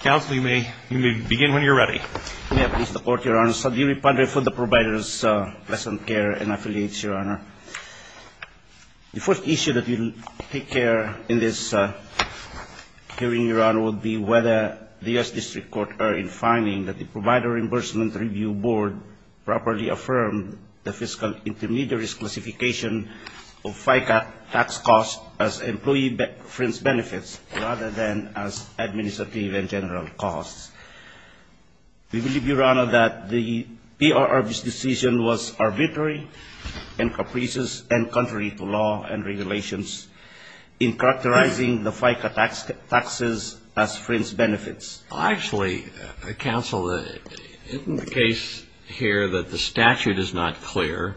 Counsel, you may begin when you're ready. May I please support, Your Honor? Sudhiri Pandre, for the Providers' Pleasant Care and Affiliates, Your Honor. The first issue that we'll take care in this hearing, Your Honor, would be whether the U.S. District Court are in finding that the Provider Reimbursement Review Board properly affirmed the fiscal intermediaries classification of FICA tax costs as employee-friends' benefits rather than as administrative and general costs. We believe, Your Honor, that the PRRB's decision was arbitrary and capricious and contrary to law and regulations in characterizing the FICA taxes as friends' benefits. Actually, Counsel, isn't the case here that the statute is not clear?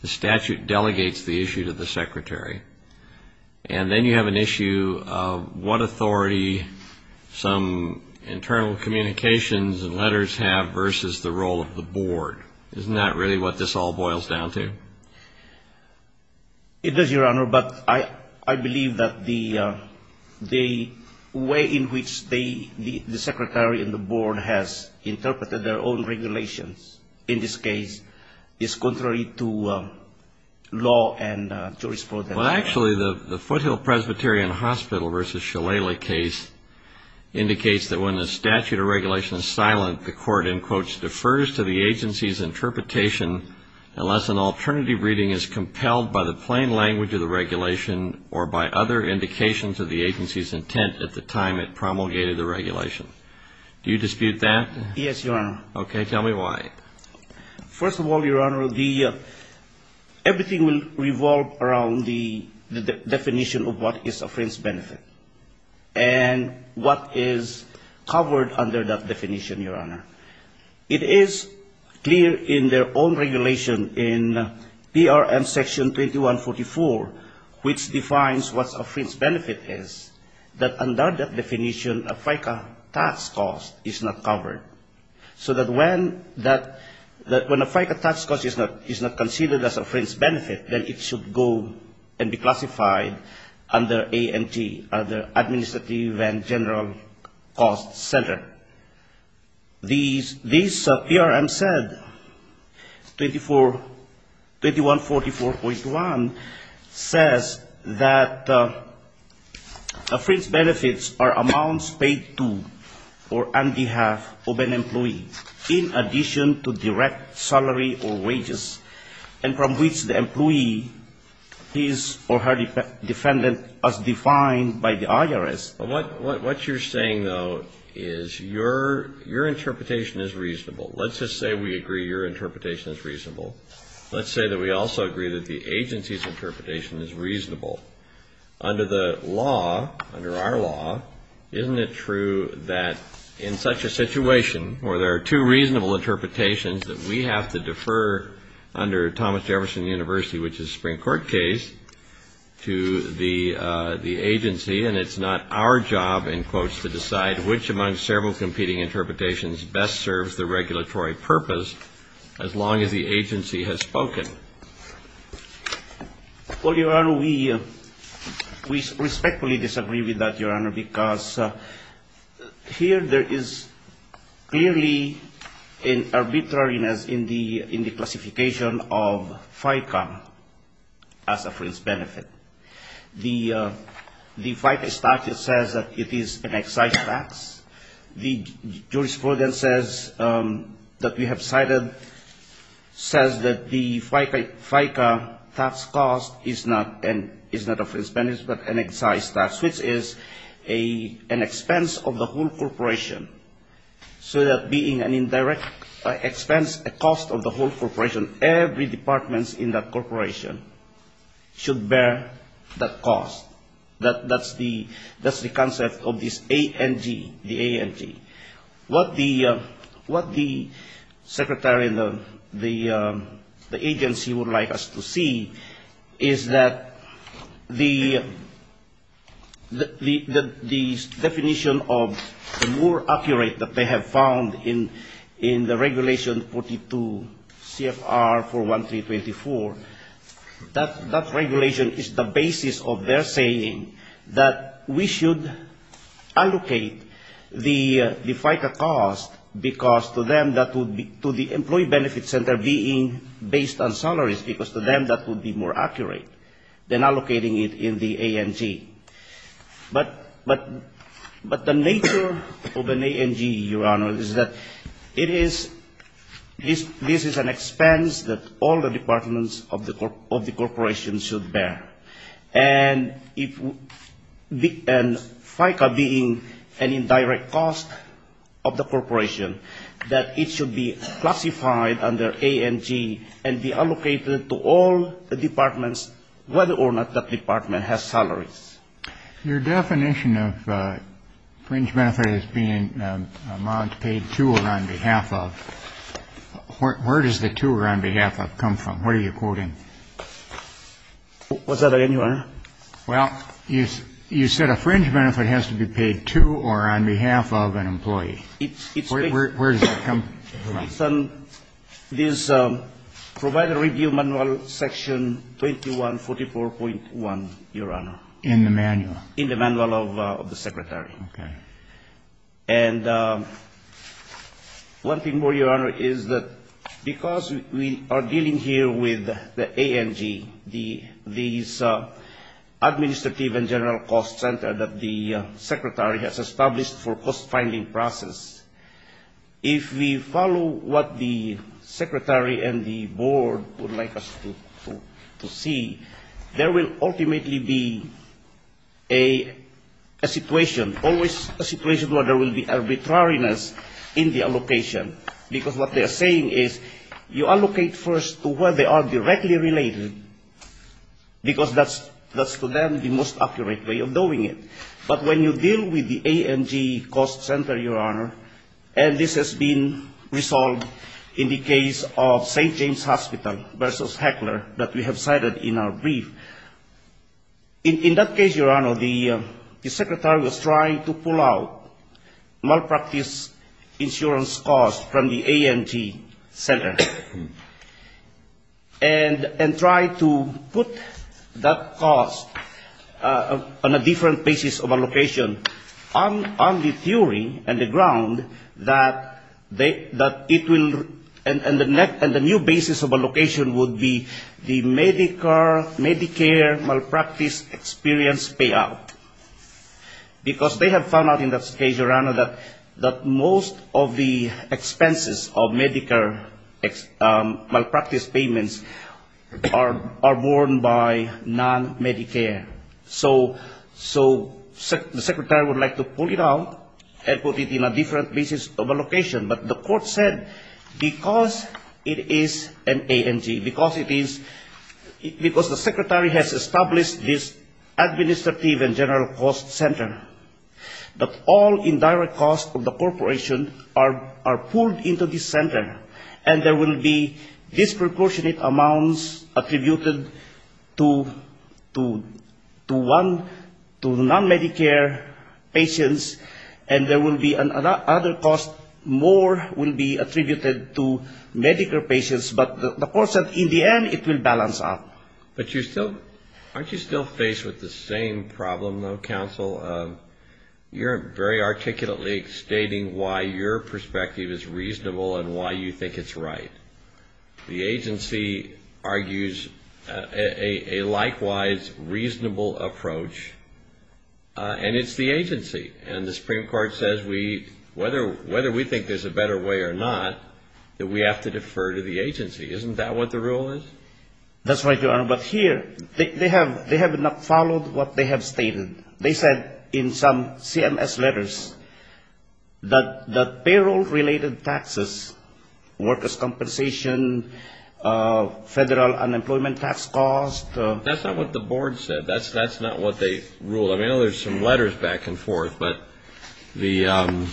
The statute delegates the issue to the Secretary. And then you have an issue of what authority some internal communications and letters have versus the role of the Board. Isn't that really what this all boils down to? It does, Your Honor, but I believe that the way in which the Secretary and the Board has interpreted their own regulations, in this case, is contrary to law and jurisprudence. Well, actually, the Foothill-Presbyterian Hospital v. Shalala case indicates that when the statute or regulation is silent, the Court, in quotes, defers to the agency's interpretation unless an alternative reading is compelled by the plain language of the regulation or by other indications of the agency's intent at the time it promulgated the regulation. Do you dispute that? Yes, Your Honor. Okay. Tell me why. First of all, Your Honor, everything will revolve around the definition of what is a friend's benefit and what is covered under that definition, Your Honor. It is clear in their own regulation in PRM Section 2144, which defines what a friend's benefit is, that under that definition, a FICA tax cost is not covered. So that when a FICA tax cost is not considered as a friend's benefit, then it should go and be classified under ANT, under Administrative and General Cost Center. This PRM said, 2144.1, says that a friend's benefits are amounts paid to or on behalf of an employee in addition to direct salary or wages, and from which the employee is or her defendant as defined by the IRS. What you're saying, though, is your interpretation is reasonable. Let's just say we agree your interpretation is reasonable. Let's say that we also agree that the agency's interpretation is reasonable. Under the law, under our law, isn't it true that in such a situation where there are two reasonable interpretations, that we have to defer under Thomas Jefferson University, which is a Supreme Court case, to the agency, and it's not our job, in quotes, to decide which among several competing interpretations best serves the regulatory purpose as long as the agency has spoken? Well, Your Honor, we respectfully disagree with that, Your Honor, because here there is clearly an arbitrariness in the classification of FICA as a friend's benefit. The FICA statute says that it is an excise tax. The jurisprudence that we have cited says that the FICA tax cost is not a friend's benefit, but an excise tax, which is an expense of the whole corporation. Every department in that corporation should bear that cost. That's the concept of this ANG, the ANG. What the secretary and the agency would like us to see is that the definition of the more accurate that they have found in the regulation 42 CFR 41324, that regulation is the basis of their saying that we should allocate the FICA cost because to them that would be, to the employee benefit center being based on salaries, because to them that would be more accurate than allocating it in the ANG. But the nature of an ANG, Your Honor, is that it is, this is an expense that all the departments of the corporation should bear. And FICA being an indirect cost of the corporation, that it should be classified under ANG and be allocated to all the departments, whether or not that department has salaries. Your definition of fringe benefit as being an amount paid to or on behalf of, where does the to or on behalf of come from? What are you quoting? What's that again, Your Honor? Well, you said a fringe benefit has to be paid to or on behalf of an employee. It's based on this Provider Review Manual Section 21. 44.1, Your Honor. In the manual? In the manual of the Secretary. And one thing more, Your Honor, is that because we are dealing here with the ANG, these administrative and general cost center that the ultimately be a situation, always a situation where there will be arbitrariness in the allocation. Because what they are saying is you allocate first to where they are directly related, because that's to them the most accurate way of doing it. But when you deal with the ANG cost center, Your Honor, and this has been resolved in the case of St. In that case, Your Honor, the Secretary was trying to pull out malpractice insurance costs from the ANG center. And try to put that cost on a different basis of allocation on the theory and the ground that it will, and the new basis of allocation would be the Medicare malpractice experience payout. Because they have found out in that case, Your Honor, that most of the expenses of Medicare malpractice payments are borne by non-Medicare. So the Secretary would like to pull it out and put it in a different basis of allocation. But the court said because it is an ANG, because it is, because the Secretary has established this administrative and general cost center, that all indirect costs of the corporation are pulled into the center. And there will be disproportionate amounts attributed to non-Medicare patients, and there will be another cost more will be attributed to Medicare patients. But the court said in the end it will balance out. But you're still, aren't you still faced with the same problem, though, counsel? You're very articulately stating why your perspective is reasonable and why you think it's right. The agency argues a likewise reasonable approach. And it's the agency. And the Supreme Court says whether we think there's a better way or not, that we have to defer to the agency. Isn't that what the rule is? That's right, Your Honor. But here, they have not followed what they have stated. They said in some CMS letters that the payroll-related taxes, workers' compensation, federal unemployment tax costs. That's not what the board said. That's not what they ruled. I mean, there's some letters back and forth. But in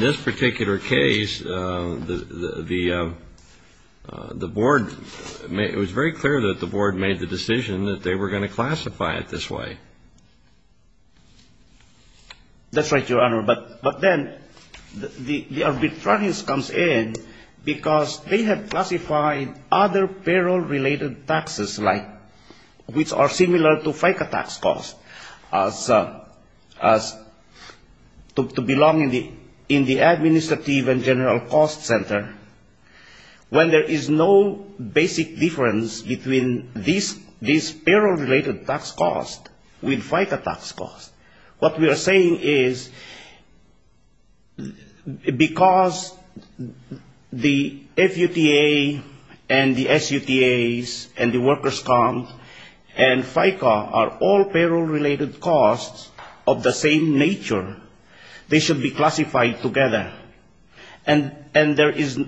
this particular case, the board, it was very clear that the board made the decision that they were going to classify it this way. That's right, Your Honor. But then the arbitrariness comes in because they have classified other payroll-related taxes like, which are similar to FICA tax costs, as to belong in the administrative and general cost center, when there is no basic difference between these payroll-related tax costs with FICA tax costs. What we are saying is because the FUTA and the SUTAs and the workers' comp and FICA are all payroll-related costs of the same nature, they should be classified together. And there is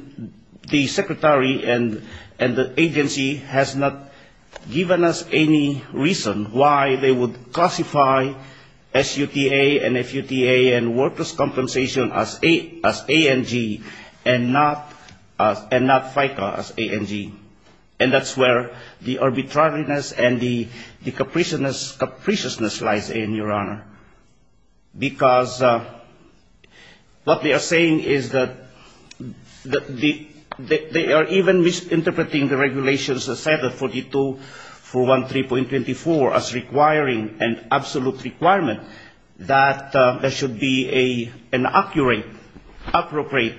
the secretary and the agency has not given us any reason why they would classify SUTA and FUTA and workers' compensation as ANG and not FICA as ANG. And that's where the arbitrariness and the capriciousness lies in, Your Honor. Because what we are saying is that they are even misinterpreting the regulations as set at 42.413.24 as requiring an absolute requirement that there should be an accurate, appropriate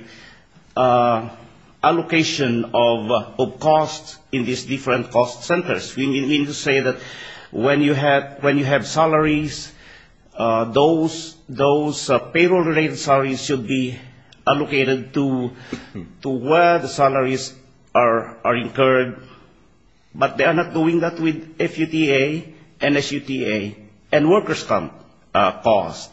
allocation of costs in these different cost centers. We mean to say that when you have salaries, those payroll-related salaries should be allocated to where the salaries are incurred, but they are not doing that with FUTA and SUTA and workers' comp costs.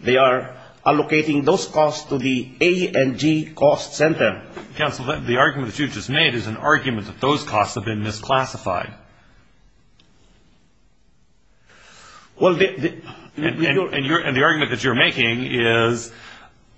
They are allocating those costs to the ANG cost center. Counsel, the argument that you just made is an argument that those costs have been misclassified. And the argument that you're making is,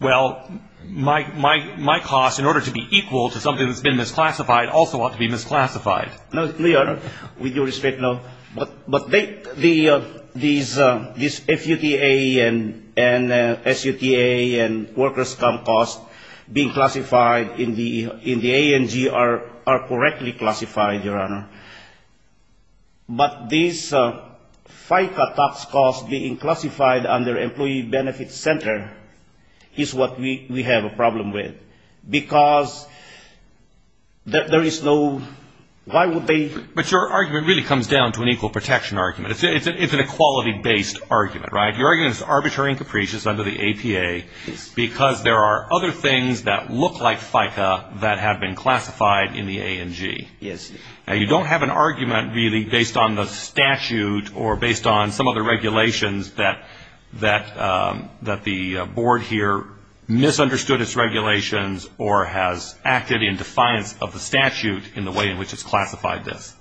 well, my costs, in order to be equal to something that's been misclassified, also ought to be misclassified. No, Your Honor, with your respect, no. But these FUTA and SUTA and workers' comp costs being classified in the ANG are correctly classified, Your Honor. But these FICA tax costs being classified under employee benefit center is what we have a problem with. But your argument really comes down to an equal protection argument. It's an equality-based argument, right? Your argument is arbitrary and capricious under the APA because there are other things that look like FICA that have been classified in the ANG. Yes. Now, you don't have an argument really based on the statute or based on some other regulations that the board here misunderstood its regulations or has acted in defiance of the statute in the way in which it's classified this.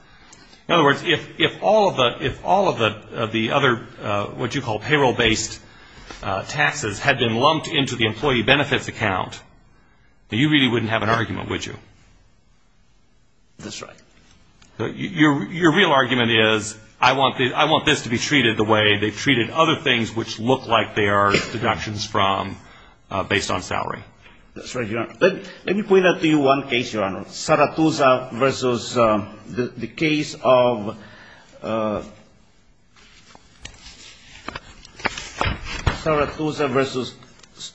In other words, if all of the other what you call payroll-based taxes had been lumped into the employee benefits account, you really wouldn't have an argument, would you? That's right. Your real argument is I want this to be treated the way they've treated other things which look like they are deductions from based on salary. That's right, Your Honor. Let me point out to you one case, Your Honor. Saratusa versus the case of Saratusa versus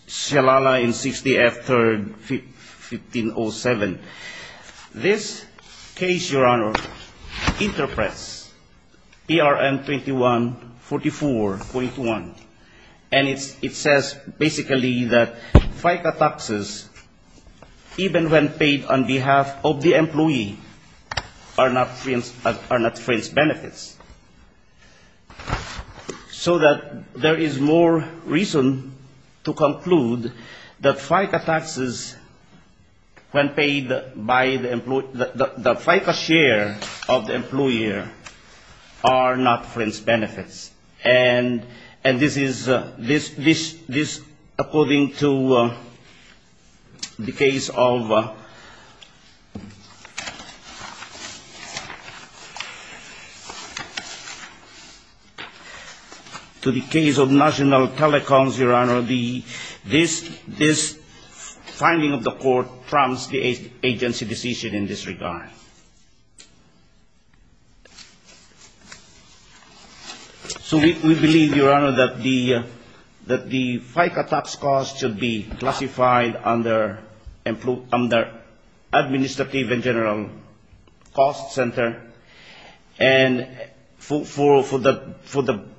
Sialala in 60 F 3rd, 1507. This case, Your Honor, interprets PRM 2144.1, and it says basically that FICA taxes, even when paid on behalf of the employee, are not So that there is more reason to conclude that FICA taxes, when paid by the employee, the FICA share of the employer, are not fenced benefits. And this is according to the case of National Telecoms, Your Honor, this finding of the court trumps the agency decision in this regard. So we believe, Your Honor, that the FICA tax costs should be classified under administrative and general cost center. And for the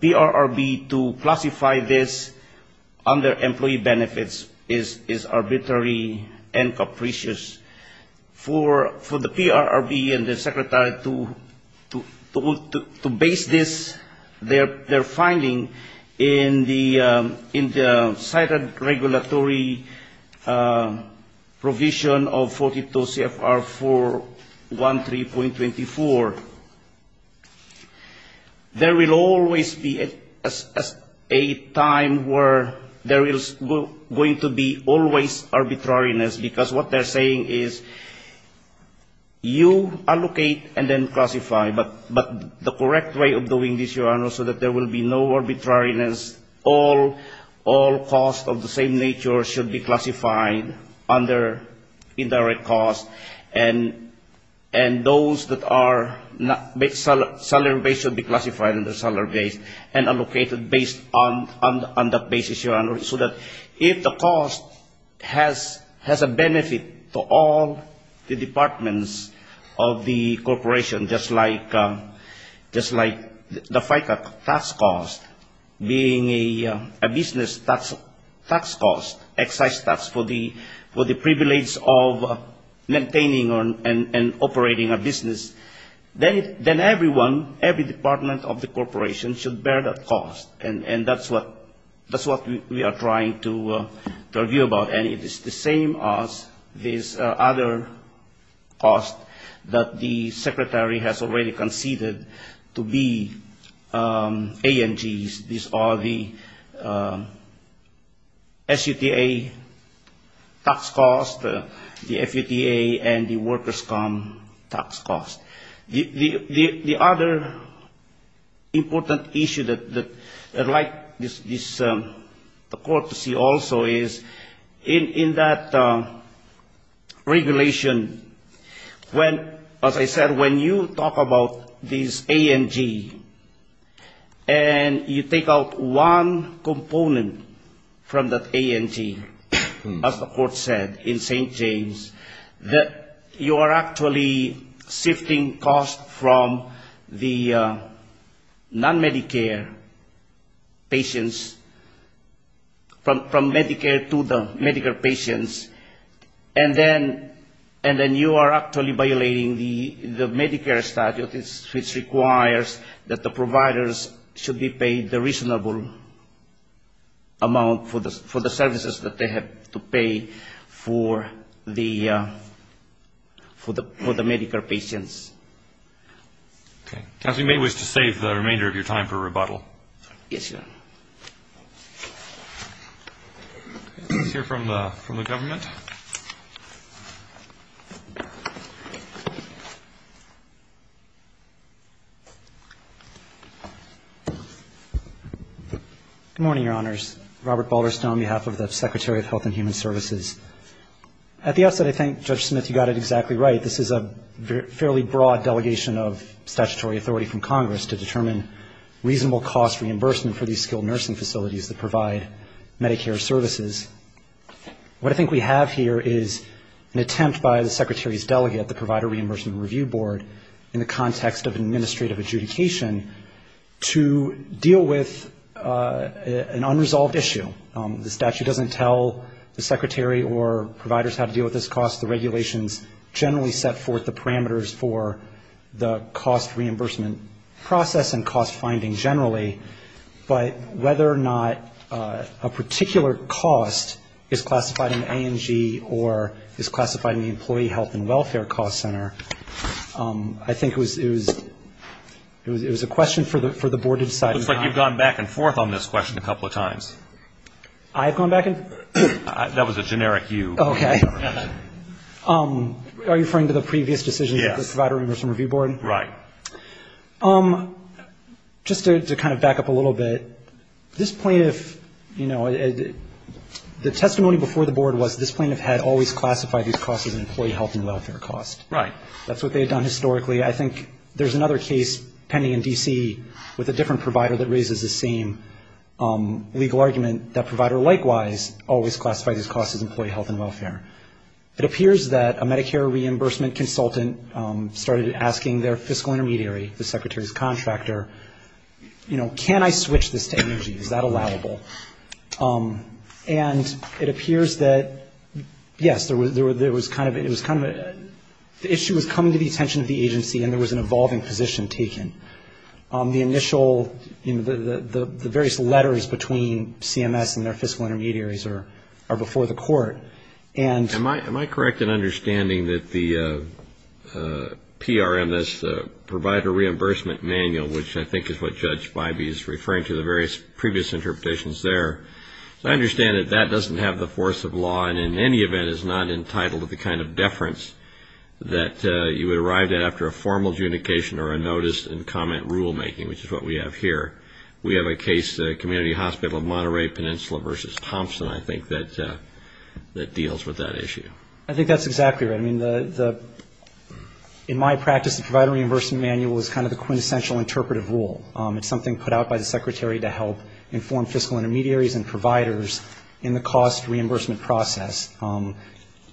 PRRB to classify this under employee benefits is arbitrary and capricious. For the PRRB and the Secretary to base this, their finding, in the cited regulatory provision of 42 CFR 413.24, there will always be a time where there is going to be always arbitrariness, because what they're saying is you allocate and then classify. But the correct way of doing this, Your Honor, so that there will be no arbitrariness, all costs of the same nature should be classified under indirect cost. And those that are salary based should be classified under salary based and allocated based on that basis, Your Honor. So that if the cost has a benefit to all the departments of the corporation, just like the FICA tax cost being a business tax cost, excise tax for the privilege of maintaining and operating a business, then everyone, every department of the corporation should bear that cost. And that's what we are trying to argue about. And it is the same as this other cost that the Secretary has already conceded to be ANGs. These are the SUTA tax costs, the FUTA and the workers' comp tax costs. The other important issue that I'd like this Court to see also is in that regulation, when, as I said, when you talk about these ANG, and you take out one component from that ANG, as the Court said, in St. James, that you are actually shifting costs from the non-Medicare patients, from Medicare to the Medicare patients, and then you are actually violating the Medicare statute, which requires that you have to pay the reasonable amount for the services that they have to pay for the Medicare patients. Okay. As we may wish to save the remainder of your time for rebuttal. Yes, Your Honor. Let's hear from the government. Good morning, Your Honors. Robert Balderstone on behalf of the Secretary of Health and Human Services. At the outset, I think, Judge Smith, you got it exactly right. This is a fairly broad delegation of statutory authority from Congress to determine reasonable cost reimbursement for these skilled nursing facilities that provide Medicare services. What I think we have here is an attempt by the Secretary's delegate, the Provider Reimbursement Review Board, in the context of administrative adjudication, to deal with an unresolved issue. The statute doesn't tell the Secretary or providers how to deal with this cost. The regulations generally set forth the parameters for the cost reimbursement process and cost finding generally, but whether or not a particular cost is classified in ANG or is classified in the Employee Health and Welfare Cost Center, I think it was a question for the Board to decide. It looks like you've gone back and forth on this question a couple of times. I have gone back and forth? That was a generic you. Okay. Are you referring to the previous decision of the Provider Reimbursement Review Board? Right. Just to kind of back up a little bit, this plaintiff, you know, the testimony before the Board was this plaintiff had always classified these costs as an employee health and welfare cost. Right. That's what they had done historically. I think there's another case pending in D.C. with a different provider that raises the same legal argument, that provider likewise always classified these costs as employee health and welfare. It appears that a Medicare reimbursement consultant started asking their fiscal intermediary, the Secretary's contractor, you know, can I switch this to energy? Is that allowable? And it appears that, yes, there was kind of a, the issue was coming to the attention of the agency and there was an evolving position taken. The initial, you know, the various letters between CMS and their fiscal intermediaries are before the court. Am I correct in understanding that the PRMS Provider Reimbursement Manual, which I think is what Judge Bybee is referring to the various previous interpretations there, I understand that that doesn't have the force of law and in any event is not entitled to the kind of deference that you would arrive at after a formal adjudication or a notice and comment rulemaking, which is what we have here. We have a case, Community Hospital of Monterey Peninsula v. Thompson, I think, that deals with that issue. I think that's exactly right. I mean, in my practice, the Provider Reimbursement Manual is kind of the quintessential interpretive rule. It's something put out by the Secretary to help inform fiscal intermediaries and providers in the cost reimbursement process.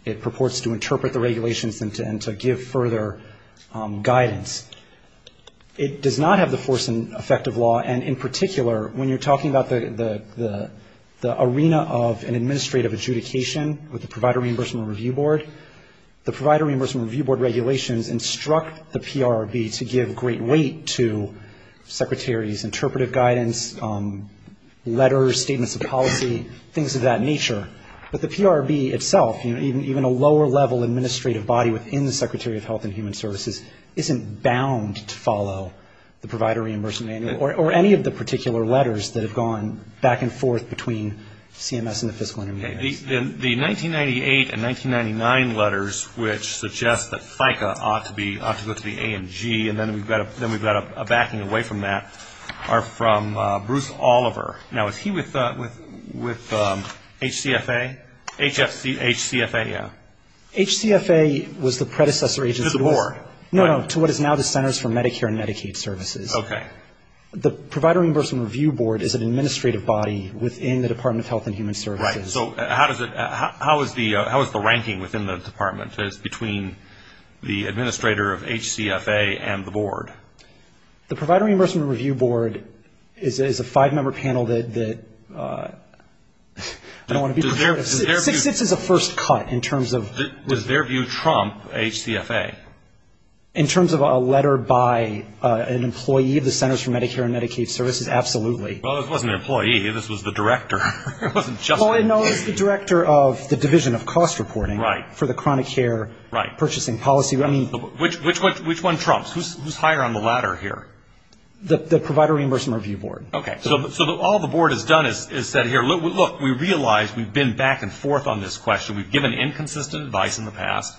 It purports to ensure guidance. It does not have the force and effect of law, and in particular, when you're talking about the arena of an administrative adjudication with the Provider Reimbursement Review Board, the Provider Reimbursement Review Board regulations instruct the PRRB to give great weight to secretaries' interpretive guidance, letters, statements of policy, things of that nature. But the PRRB itself, you know, even a lower-level administrative body within the Secretary of Health and Human Services isn't bound to follow the Provider Reimbursement Manual or any of the particular letters that have gone back and forth between CMS and the fiscal intermediaries. The 1998 and 1999 letters, which suggest that FICA ought to go to the A and G, and then we've got a backing away from that, are from Bruce Oliver. Now, is he with HCFA? HCFA, yeah. HCFA was the predecessor agency to what is now the Centers for Medicare and Medicaid Services. Okay. The Provider Reimbursement Review Board is an administrative body within the Department of Health and Human Services. Right. So how is the ranking within the department? Is it between the administrator of HCFA and the board? The Provider Reimbursement Review Board is a five-member panel that I don't want to be prejudiced. It sits as a first cut in terms of who's higher on the ladder here. Does their view trump HCFA? In terms of a letter by an employee of the Centers for Medicare and Medicaid Services, absolutely. Well, this wasn't an employee. This was the director. It wasn't just the employee. No, it was the director of the Division of Cost Reporting for the chronic care purchasing policy. Which one trumps? Who's higher on the ladder here? The Provider Reimbursement Review Board. Okay. So all the board has done is said here, look, we realize we've been back and forth on this question. We've given inconsistent advice in the past.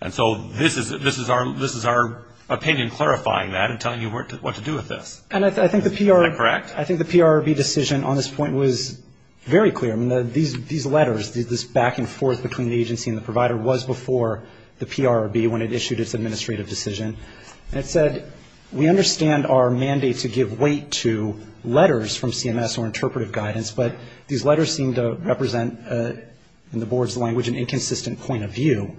And so this is our opinion clarifying that and telling you what to do with this. And I think the PRB decision on this point was very clear. I mean, these letters, this back and forth between the agency and the provider was before the PRB when it issued its administrative decision. And it said, we understand our mandate to give weight to letters from CMS or interpretive guidance, but these letters seem to represent, in the board's language, an inconsistent point of view,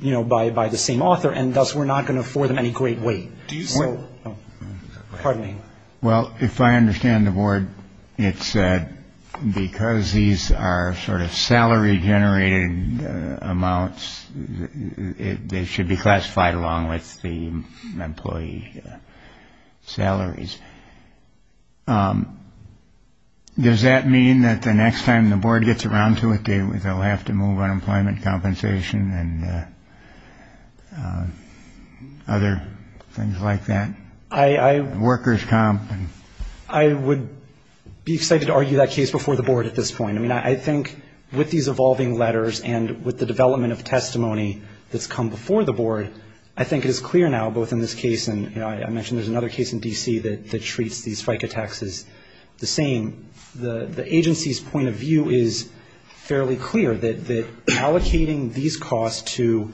you know, by the same author. And thus, we're not going to afford them any great weight. Pardon me. Well, if I understand the board, it said because these are sort of salary generated amounts, they should be classified along with the employee salaries. Does that mean that the next time the board gets around to it, they'll have to move unemployment compensation and other things like that? I would be excited to argue that case before the board at this point. I mean, I think with these evolving letters and with the development of testimony that's come before the board, I think it is clear now, both in this case, and I mentioned there's another case in D.C. that treats these FICA taxes the same, the agency's point of view is fairly clear that allocating these costs to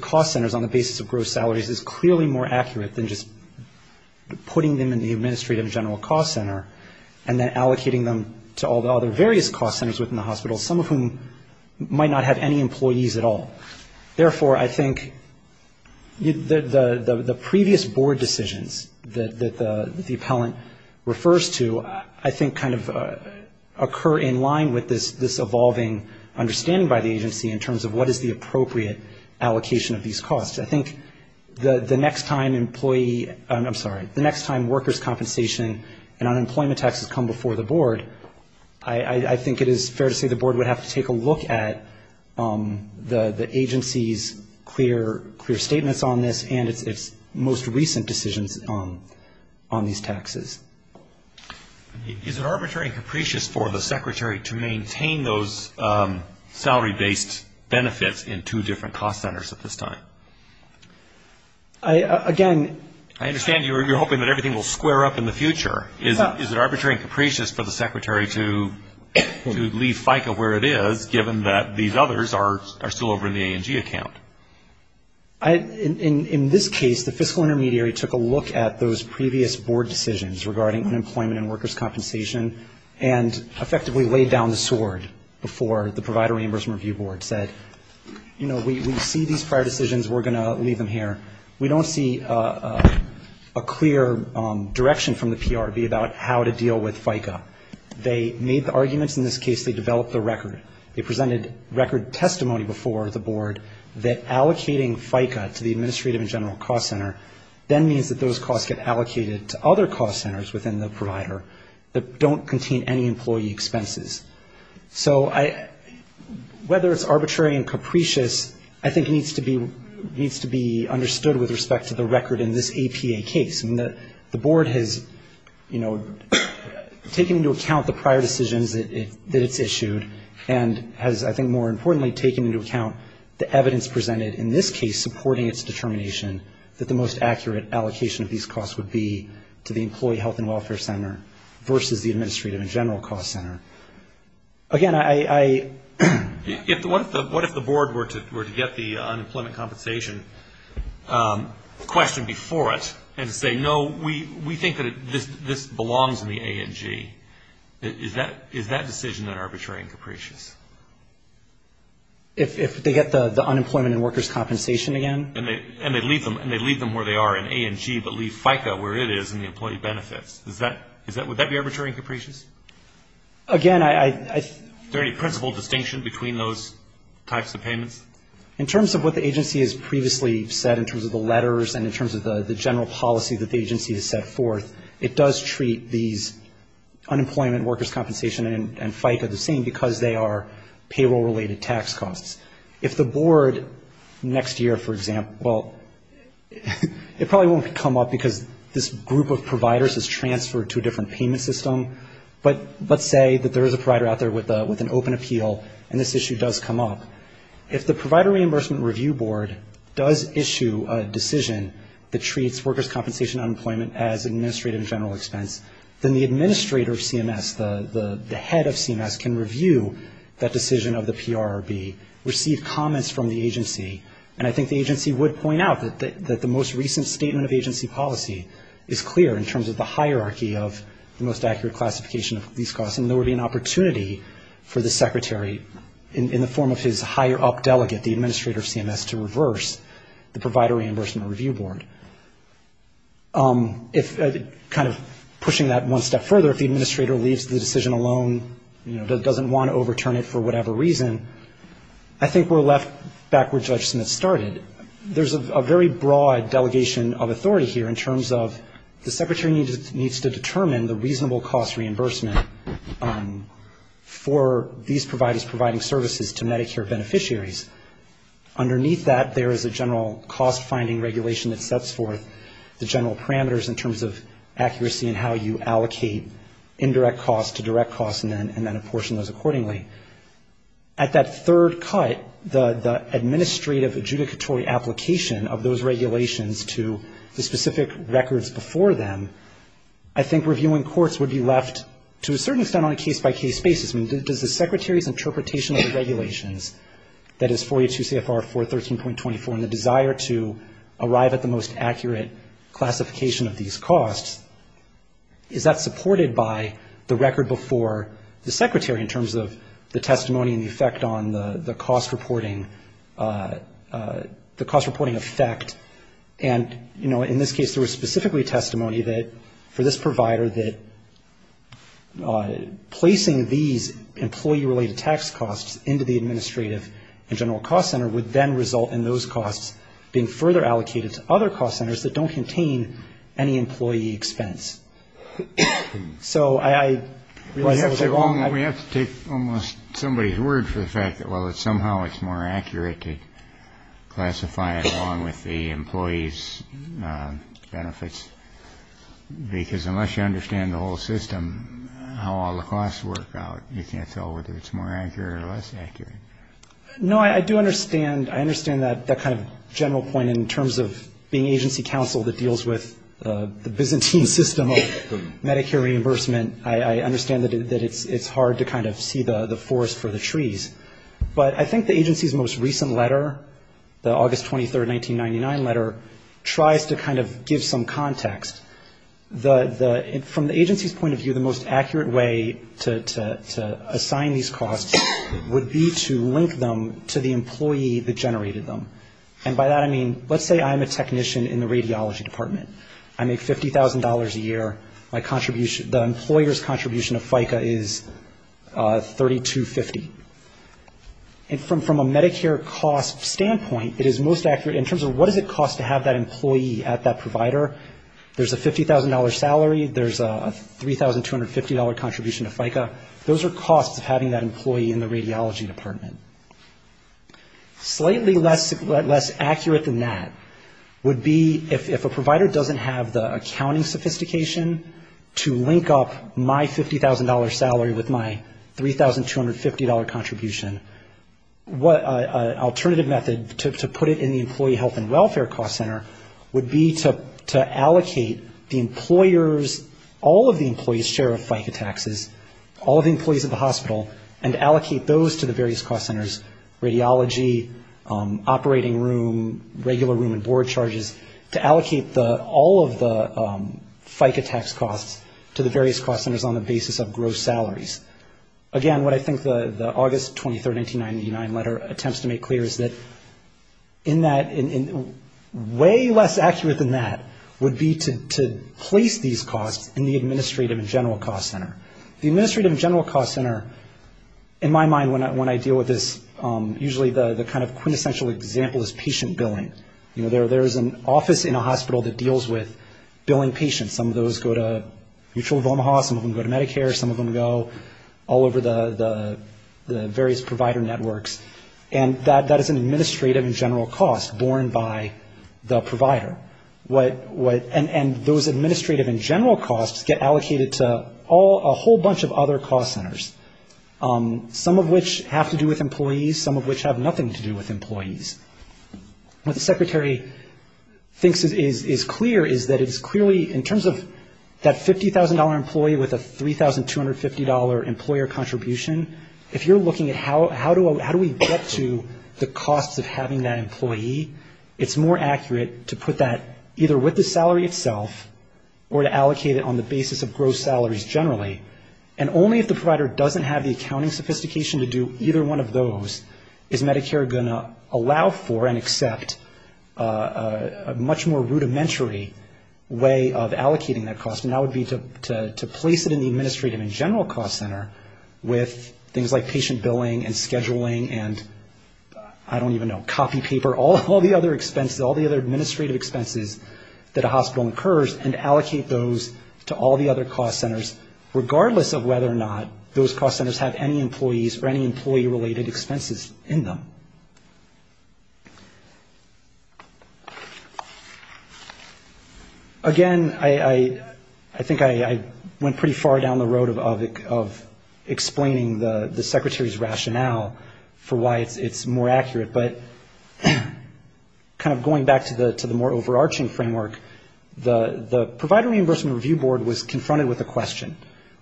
cost centers on the basis of gross costs, putting them in the administrative general cost center, and then allocating them to all the other various cost centers within the hospital, some of whom might not have any employees at all. Therefore, I think the previous board decisions that the appellant refers to, I think kind of occur in line with this evolving understanding by the agency in terms of what is the appropriate allocation of these costs. I think the next time employee, I'm sorry, the next time workers' compensation and unemployment taxes come before the board, I think it is fair to say the board would have to take a look at the agency's clear statements on this and its most recent decisions on these taxes. Is it arbitrary and capricious for the secretary to maintain those salary-based benefits in two different cost centers at this time? Again... I understand you're hoping that everything will square up in the future. Is it arbitrary and capricious for the secretary to leave FICA where it is, given that these others are still over in the A&G account? In this case, the fiscal intermediary took a look at those previous board decisions regarding unemployment and workers' compensation and effectively laid down the sword before the provider reimbursement review board said, you know, we see these prior decisions, we're going to look at them, we're going to look at them, we're going to leave them here, we don't see a clear direction from the PRB about how to deal with FICA. They made the arguments, in this case they developed the record, they presented record testimony before the board that allocating FICA to the administrative and general cost center then means that those costs get allocated to other cost centers within the provider that don't contain any employee expenses. So I, whether it's arbitrary and capricious, I think needs to be, needs to be looked at. It needs to be understood with respect to the record in this APA case. The board has, you know, taken into account the prior decisions that it's issued and has, I think, more importantly, taken into account the evidence presented in this case supporting its determination that the most accurate allocation of these costs would be to the employee health and welfare center versus the administrative and general cost center. Again, I... What if the board were to get the unemployment compensation question before it and say, no, we think that this belongs in the A and G? Is that decision then arbitrary and capricious? If they get the unemployment and workers' compensation again? And they leave them where they are in A and G, but leave FICA where it is in the employee benefits. Is that, would that be arbitrary and capricious? Again, I... Is there any principle distinction between those types of payments? In terms of what the agency has previously said in terms of the letters and in terms of the general policy that the agency has set forth, it does treat these unemployment workers' compensation and FICA the same because they are payroll-related tax costs. If the board next year, for example, well, it probably won't come up because this group of providers has transferred to a different payment system, but let's say that there is a provider out there with an open appeal and this issue does come up. If the Provider Reimbursement Review Board does issue a decision that treats workers' compensation unemployment as administrative and general expense, then the administrator of CMS, the head of CMS can review that decision of the PRRB. Receive comments from the agency, and I think the agency would point out that the most recent statement of agency policy is clear in terms of the hierarchy of the most accurate classification of these costs, and there would be an opportunity for the secretary in the form of his higher-up delegate, the administrator of CMS, to reverse the Provider Reimbursement Review Board. If, kind of pushing that one step further, if the administrator leaves the decision alone, you know, doesn't want to overturn it for whatever reason, I think we're left back where Judge Smith started. There's a very broad delegation of authority here in terms of the secretary needs to determine the reasonable cost reimbursement for these providers providing services to Medicare beneficiaries. Underneath that, there is a general cost-finding regulation that sets forth the general parameters in terms of accuracy and how you allocate indirect costs to direct costs and then apportion those accordingly. At that third cut, the administrative adjudicatory application of those regulations to the specific records before them, I think reviewing courts would be left to a certain extent on a case-by-case basis. I mean, does the secretary's interpretation of the regulations, that is 482 CFR 413.24 and the desire to arrive at the most accurate classification of these costs, is that supported by the record before the secretary in terms of the testimony and the effect on the cost-reporting effect? And, you know, in this case, there was specifically testimony that for this provider that placing these employee-related tax costs into the administrative and general cost center would then result in those costs being further allocated to other cost centers that don't contain any employee expense. So I realize I was wrong. We have to take almost somebody's word for the fact that, well, somehow it's more accurate to classify it along with the employee's benefits, because unless you understand the whole system, how all the costs work out, you can't tell whether it's more accurate or less accurate. No, I do understand. I understand that kind of general point in terms of being agency counsel that deals with the cost-reporting and dealing with the Byzantine system of Medicare reimbursement, I understand that it's hard to kind of see the forest for the trees. But I think the agency's most recent letter, the August 23, 1999 letter, tries to kind of give some context. From the agency's point of view, the most accurate way to assign these costs would be to link them to the employee that generated them. And by that I mean, let's say I'm a technician in the radiology department. I make $50,000 a year. My contribution, the employer's contribution to FICA is $3,250. And from a Medicare cost standpoint, it is most accurate in terms of what does it cost to have that employee at that provider. There's a $50,000 salary. There's a $3,250 contribution to FICA. Those are costs of having that employee in the radiology department. Slightly less accurate than that would be if a provider doesn't have the accounting sophistication to link up my $50,000 salary with my $3,250 contribution, an alternative method to put it in the employee health and welfare cost center would be to allocate the employer's, all of the employee's share of FICA taxes, all of the employees of the hospital, and allocate those to the various cost centers, radiology, operating room, regular room and board charges, to allocate all of the FICA tax costs to the various cost centers on the basis of gross salaries. Again, what I think the August 23, 1999 letter attempts to make clear is that in that, way less accurate than that would be to place these costs in the administrative and general cost center. The administrative and general cost center, in my mind when I deal with this, usually the kind of quintessential example is patient billing. There's an office in a hospital that deals with billing patients. Some of those go to Mutual of Omaha, some of them go to Medicare, some of them go all over the various provider networks. And that is an administrative and general cost borne by the provider. And those administrative and general costs get allocated to a whole bunch of other cost centers, some of which have to do with employees, some of which have nothing to do with employees. What the secretary thinks is clear is that it's clearly, in terms of that $50,000 employee with a $3,250 employer contribution, if you're looking at how do we get to the costs of having that employee, it's more accurate to put that either with the cost center or on the basis of gross salaries generally. And only if the provider doesn't have the accounting sophistication to do either one of those is Medicare going to allow for and accept a much more rudimentary way of allocating that cost. And that would be to place it in the administrative and general cost center with things like patient billing and scheduling and I don't even know, copy paper, all the other administrative expenses that a hospital incurs and allocate those to all the other cost centers, regardless of whether or not those cost centers have any employees or any employee related expenses in them. Again, I think I went pretty far down the road of explaining the secretary's rationale for why it's more accurate, but kind of going back to the more overarching framework, the Provider Reimbursement Review Board was confronted with a question.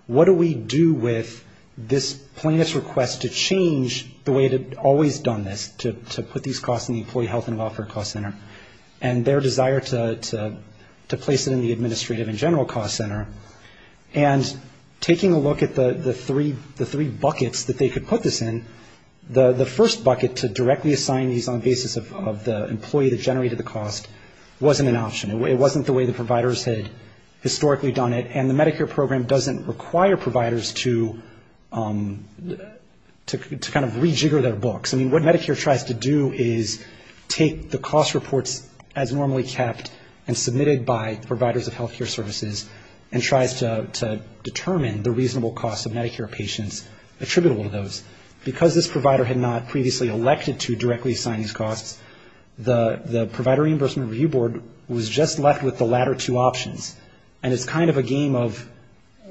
What do we do with this plaintiff's request to change the way it had always done this, to put these costs in the employee health and welfare cost center and their desire to place it in the administrative and general cost center? And taking a look at the three buckets that they could put this in, the first one was to say that the way they generated the cost wasn't an option. It wasn't the way the providers had historically done it, and the Medicare program doesn't require providers to kind of rejigger their books. I mean, what Medicare tries to do is take the cost reports as normally kept and submitted by providers of health care services and tries to determine the reasonable cost of Medicare patients attributable to those. Because this provider had not previously elected to directly assign these costs, the cost of the Medicare cost center was kind of a game of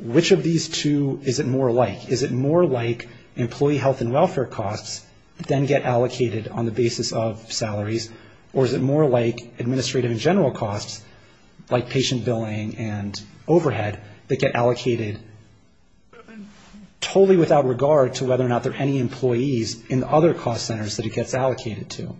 which of these two is it more like? Is it more like employee health and welfare costs that then get allocated on the basis of salaries, or is it more like administrative and general costs, like patient billing and overhead, that get allocated totally without regard to whether or not there are any employees in the other cost centers that it gets allocated to?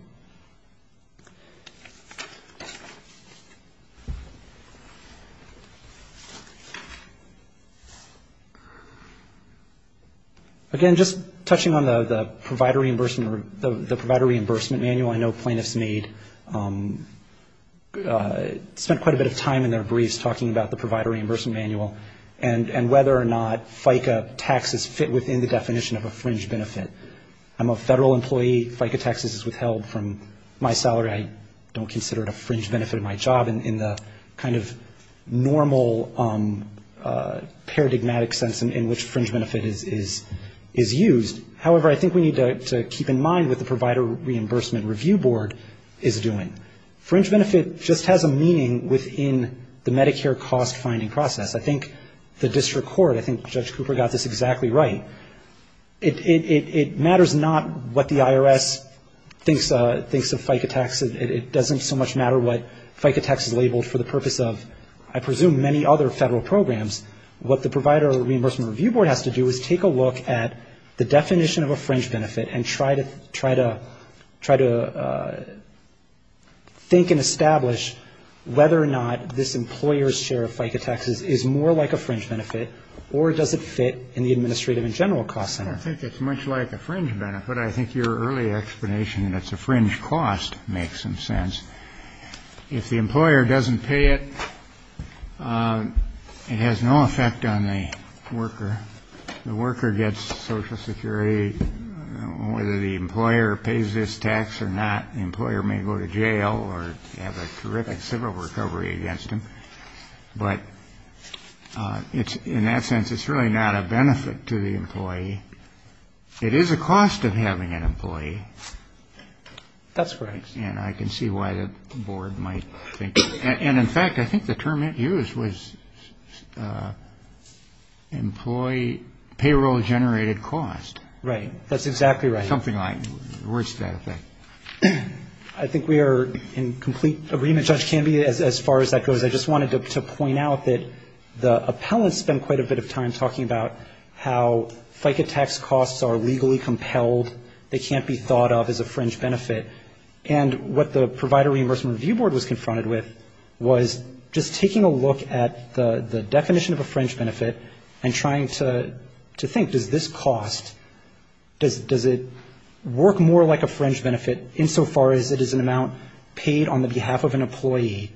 And the second one was to say that the cost of the Medicare cost center was not an option. Again, just touching on the provider reimbursement manual, I know plaintiffs made, spent quite a bit of time in their briefs talking about the provider reimbursement manual and whether or not FICA taxes fit within the definition of a fringe benefit. I'm a federal employee. FICA taxes is withheld from my salary. I don't consider it a fringe benefit of my job in the kind of normal paradigmatic sense in which fringe benefit is used. However, I think we need to keep in mind what the provider reimbursement review board is doing. Fringe benefit just has a meaning within the Medicare cost-finding process. I think the district court, I think Judge Cooper got this exactly right. It matters not what the IRS thinks of FICA tax. It doesn't so much matter what FICA tax is labeled for the purpose of, I presume, many other federal programs. What the provider reimbursement review board has to do is take a look at the definition of a fringe benefit and try to think and establish whether or not this employer's share of FICA taxes is more like a fringe benefit or does it fit in the administrative and general cost center. I think it's much like a fringe benefit. I think your early explanation that it's a fringe cost makes some sense. If the employer doesn't pay it, it has no effect on the worker. The worker gets Social Security. Whether the employer pays this tax or not, the employer may go to jail or have a terrific civil recovery against him. But in that sense, it's really not a benefit to the employer. It is a cost of having an employee. That's correct. And I can see why the board might think that. And in fact, I think the term it used was employee payroll-generated cost. Right. That's exactly right. I think we are in complete agreement, Judge Canby, as far as that goes. I just wanted to point out that the appellant spent quite a bit of time talking about how the FICA tax costs are legally compelled. They can't be thought of as a fringe benefit. And what the Provider Reimbursement Review Board was confronted with was just taking a look at the definition of a fringe benefit and trying to think, does this cost, does it work more like a fringe benefit insofar as it is an amount paid on the behalf of an employee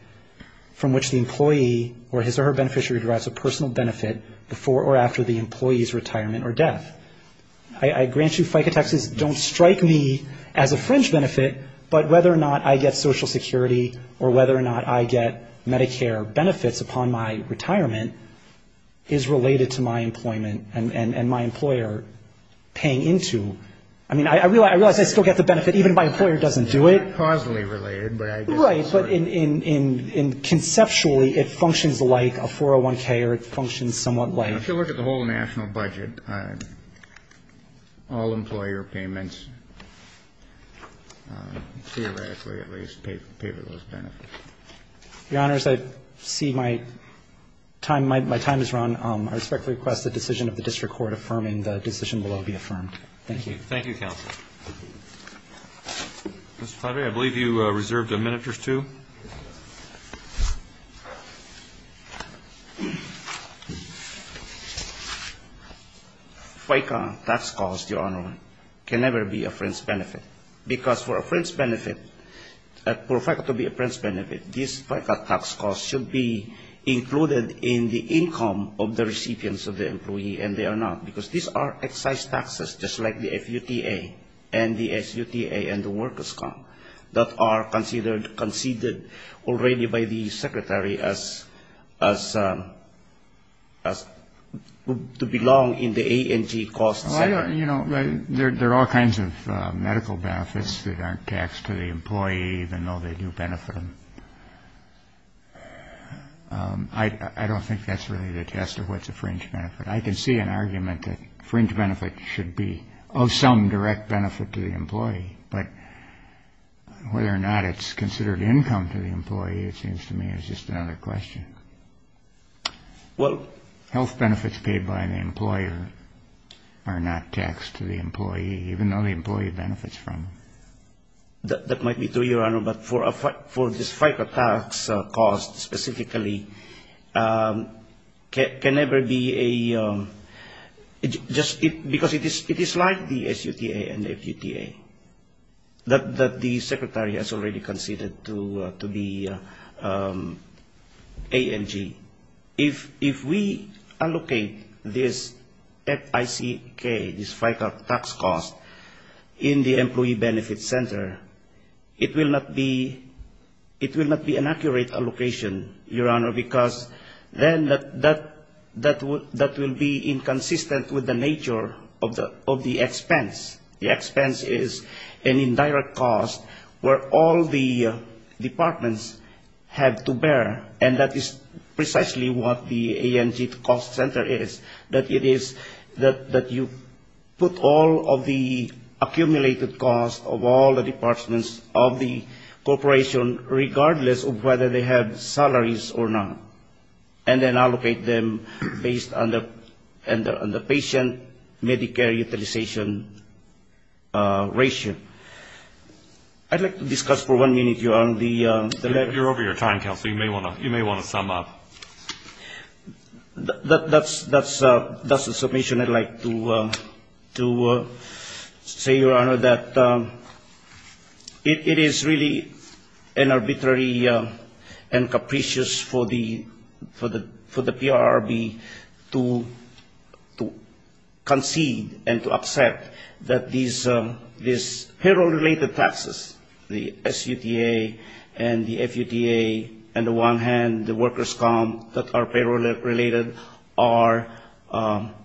from which the employee or his or her beneficiary derives a personal benefit before or after the employee's retirement or death. I grant you FICA taxes don't strike me as a fringe benefit, but whether or not I get Social Security or whether or not I get Medicare benefits upon my retirement is related to my employment and my employer paying into. I mean, I realize I still get the benefit even if my employer doesn't do it. It's not causally related, but I guess it's sort of. But in conceptually, it functions like a 401k or it functions somewhat like. If you look at the whole national budget, all employer payments, theoretically at least, pay for those benefits. Your Honors, I see my time has run. I respectfully request the decision of the district court affirming the decision will now be affirmed. Thank you. Thank you, counsel. FICA tax costs, Your Honor, can never be a fringe benefit. Because for a fringe benefit, for FICA to be a fringe benefit, this FICA tax cost should be included in the income of the recipients of the employee and they are not. Because these are excise taxes, just like the FUTA and the SUTA and the workers' comp that are considered already by the secretary as to belong in the A&G cost sector. There are all kinds of medical benefits that aren't taxed to the employee, even though they do benefit them. I don't think that's really the test of what's a fringe benefit. I can see an argument that fringe benefit should be of some direct benefit to the employee. But whether or not it's considered income to the employee, it seems to me, is just another question. Health benefits paid by the employer are not taxed to the employee, even though the employee benefits from them. That might be true, Your Honor, but for this FICA tax cost specifically, can never be a, just because it is like the SUTA and the FUTA, that the secretary has already considered to be A&G. If we allocate this FICK, this FICA tax cost, in the employee benefits sector, it's not taxable. It will not be an accurate allocation, Your Honor, because then that will be inconsistent with the nature of the expense. The expense is an indirect cost where all the departments have to bear, and that is precisely what the A&G cost center is, that it is, that you put all of the accumulated cost of all the departments of the corporation, regardless of whether they have salaries or not, and then allocate them based on the patient-medicare utilization ratio. I'd like to discuss for one minute, Your Honor, the... You're over your time, Counselor, you may want to sum up. That's a summation I'd like to say, Your Honor, that it is really an arbitrary and capricious for the PRRB to concede and to accept that these payroll-related taxes, the SUTA and the FUTA, on the one hand, the workers' comp, the other hand, the employees' comp. that are payroll-related are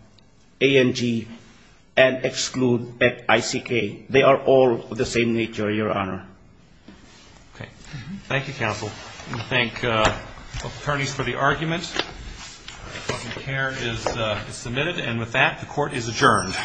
A&G and exclude ICK. They are all of the same nature, Your Honor. Okay. Thank you, Counsel. I'm going to thank both attorneys for the argument. The case is submitted. And with that, the Court is adjourned.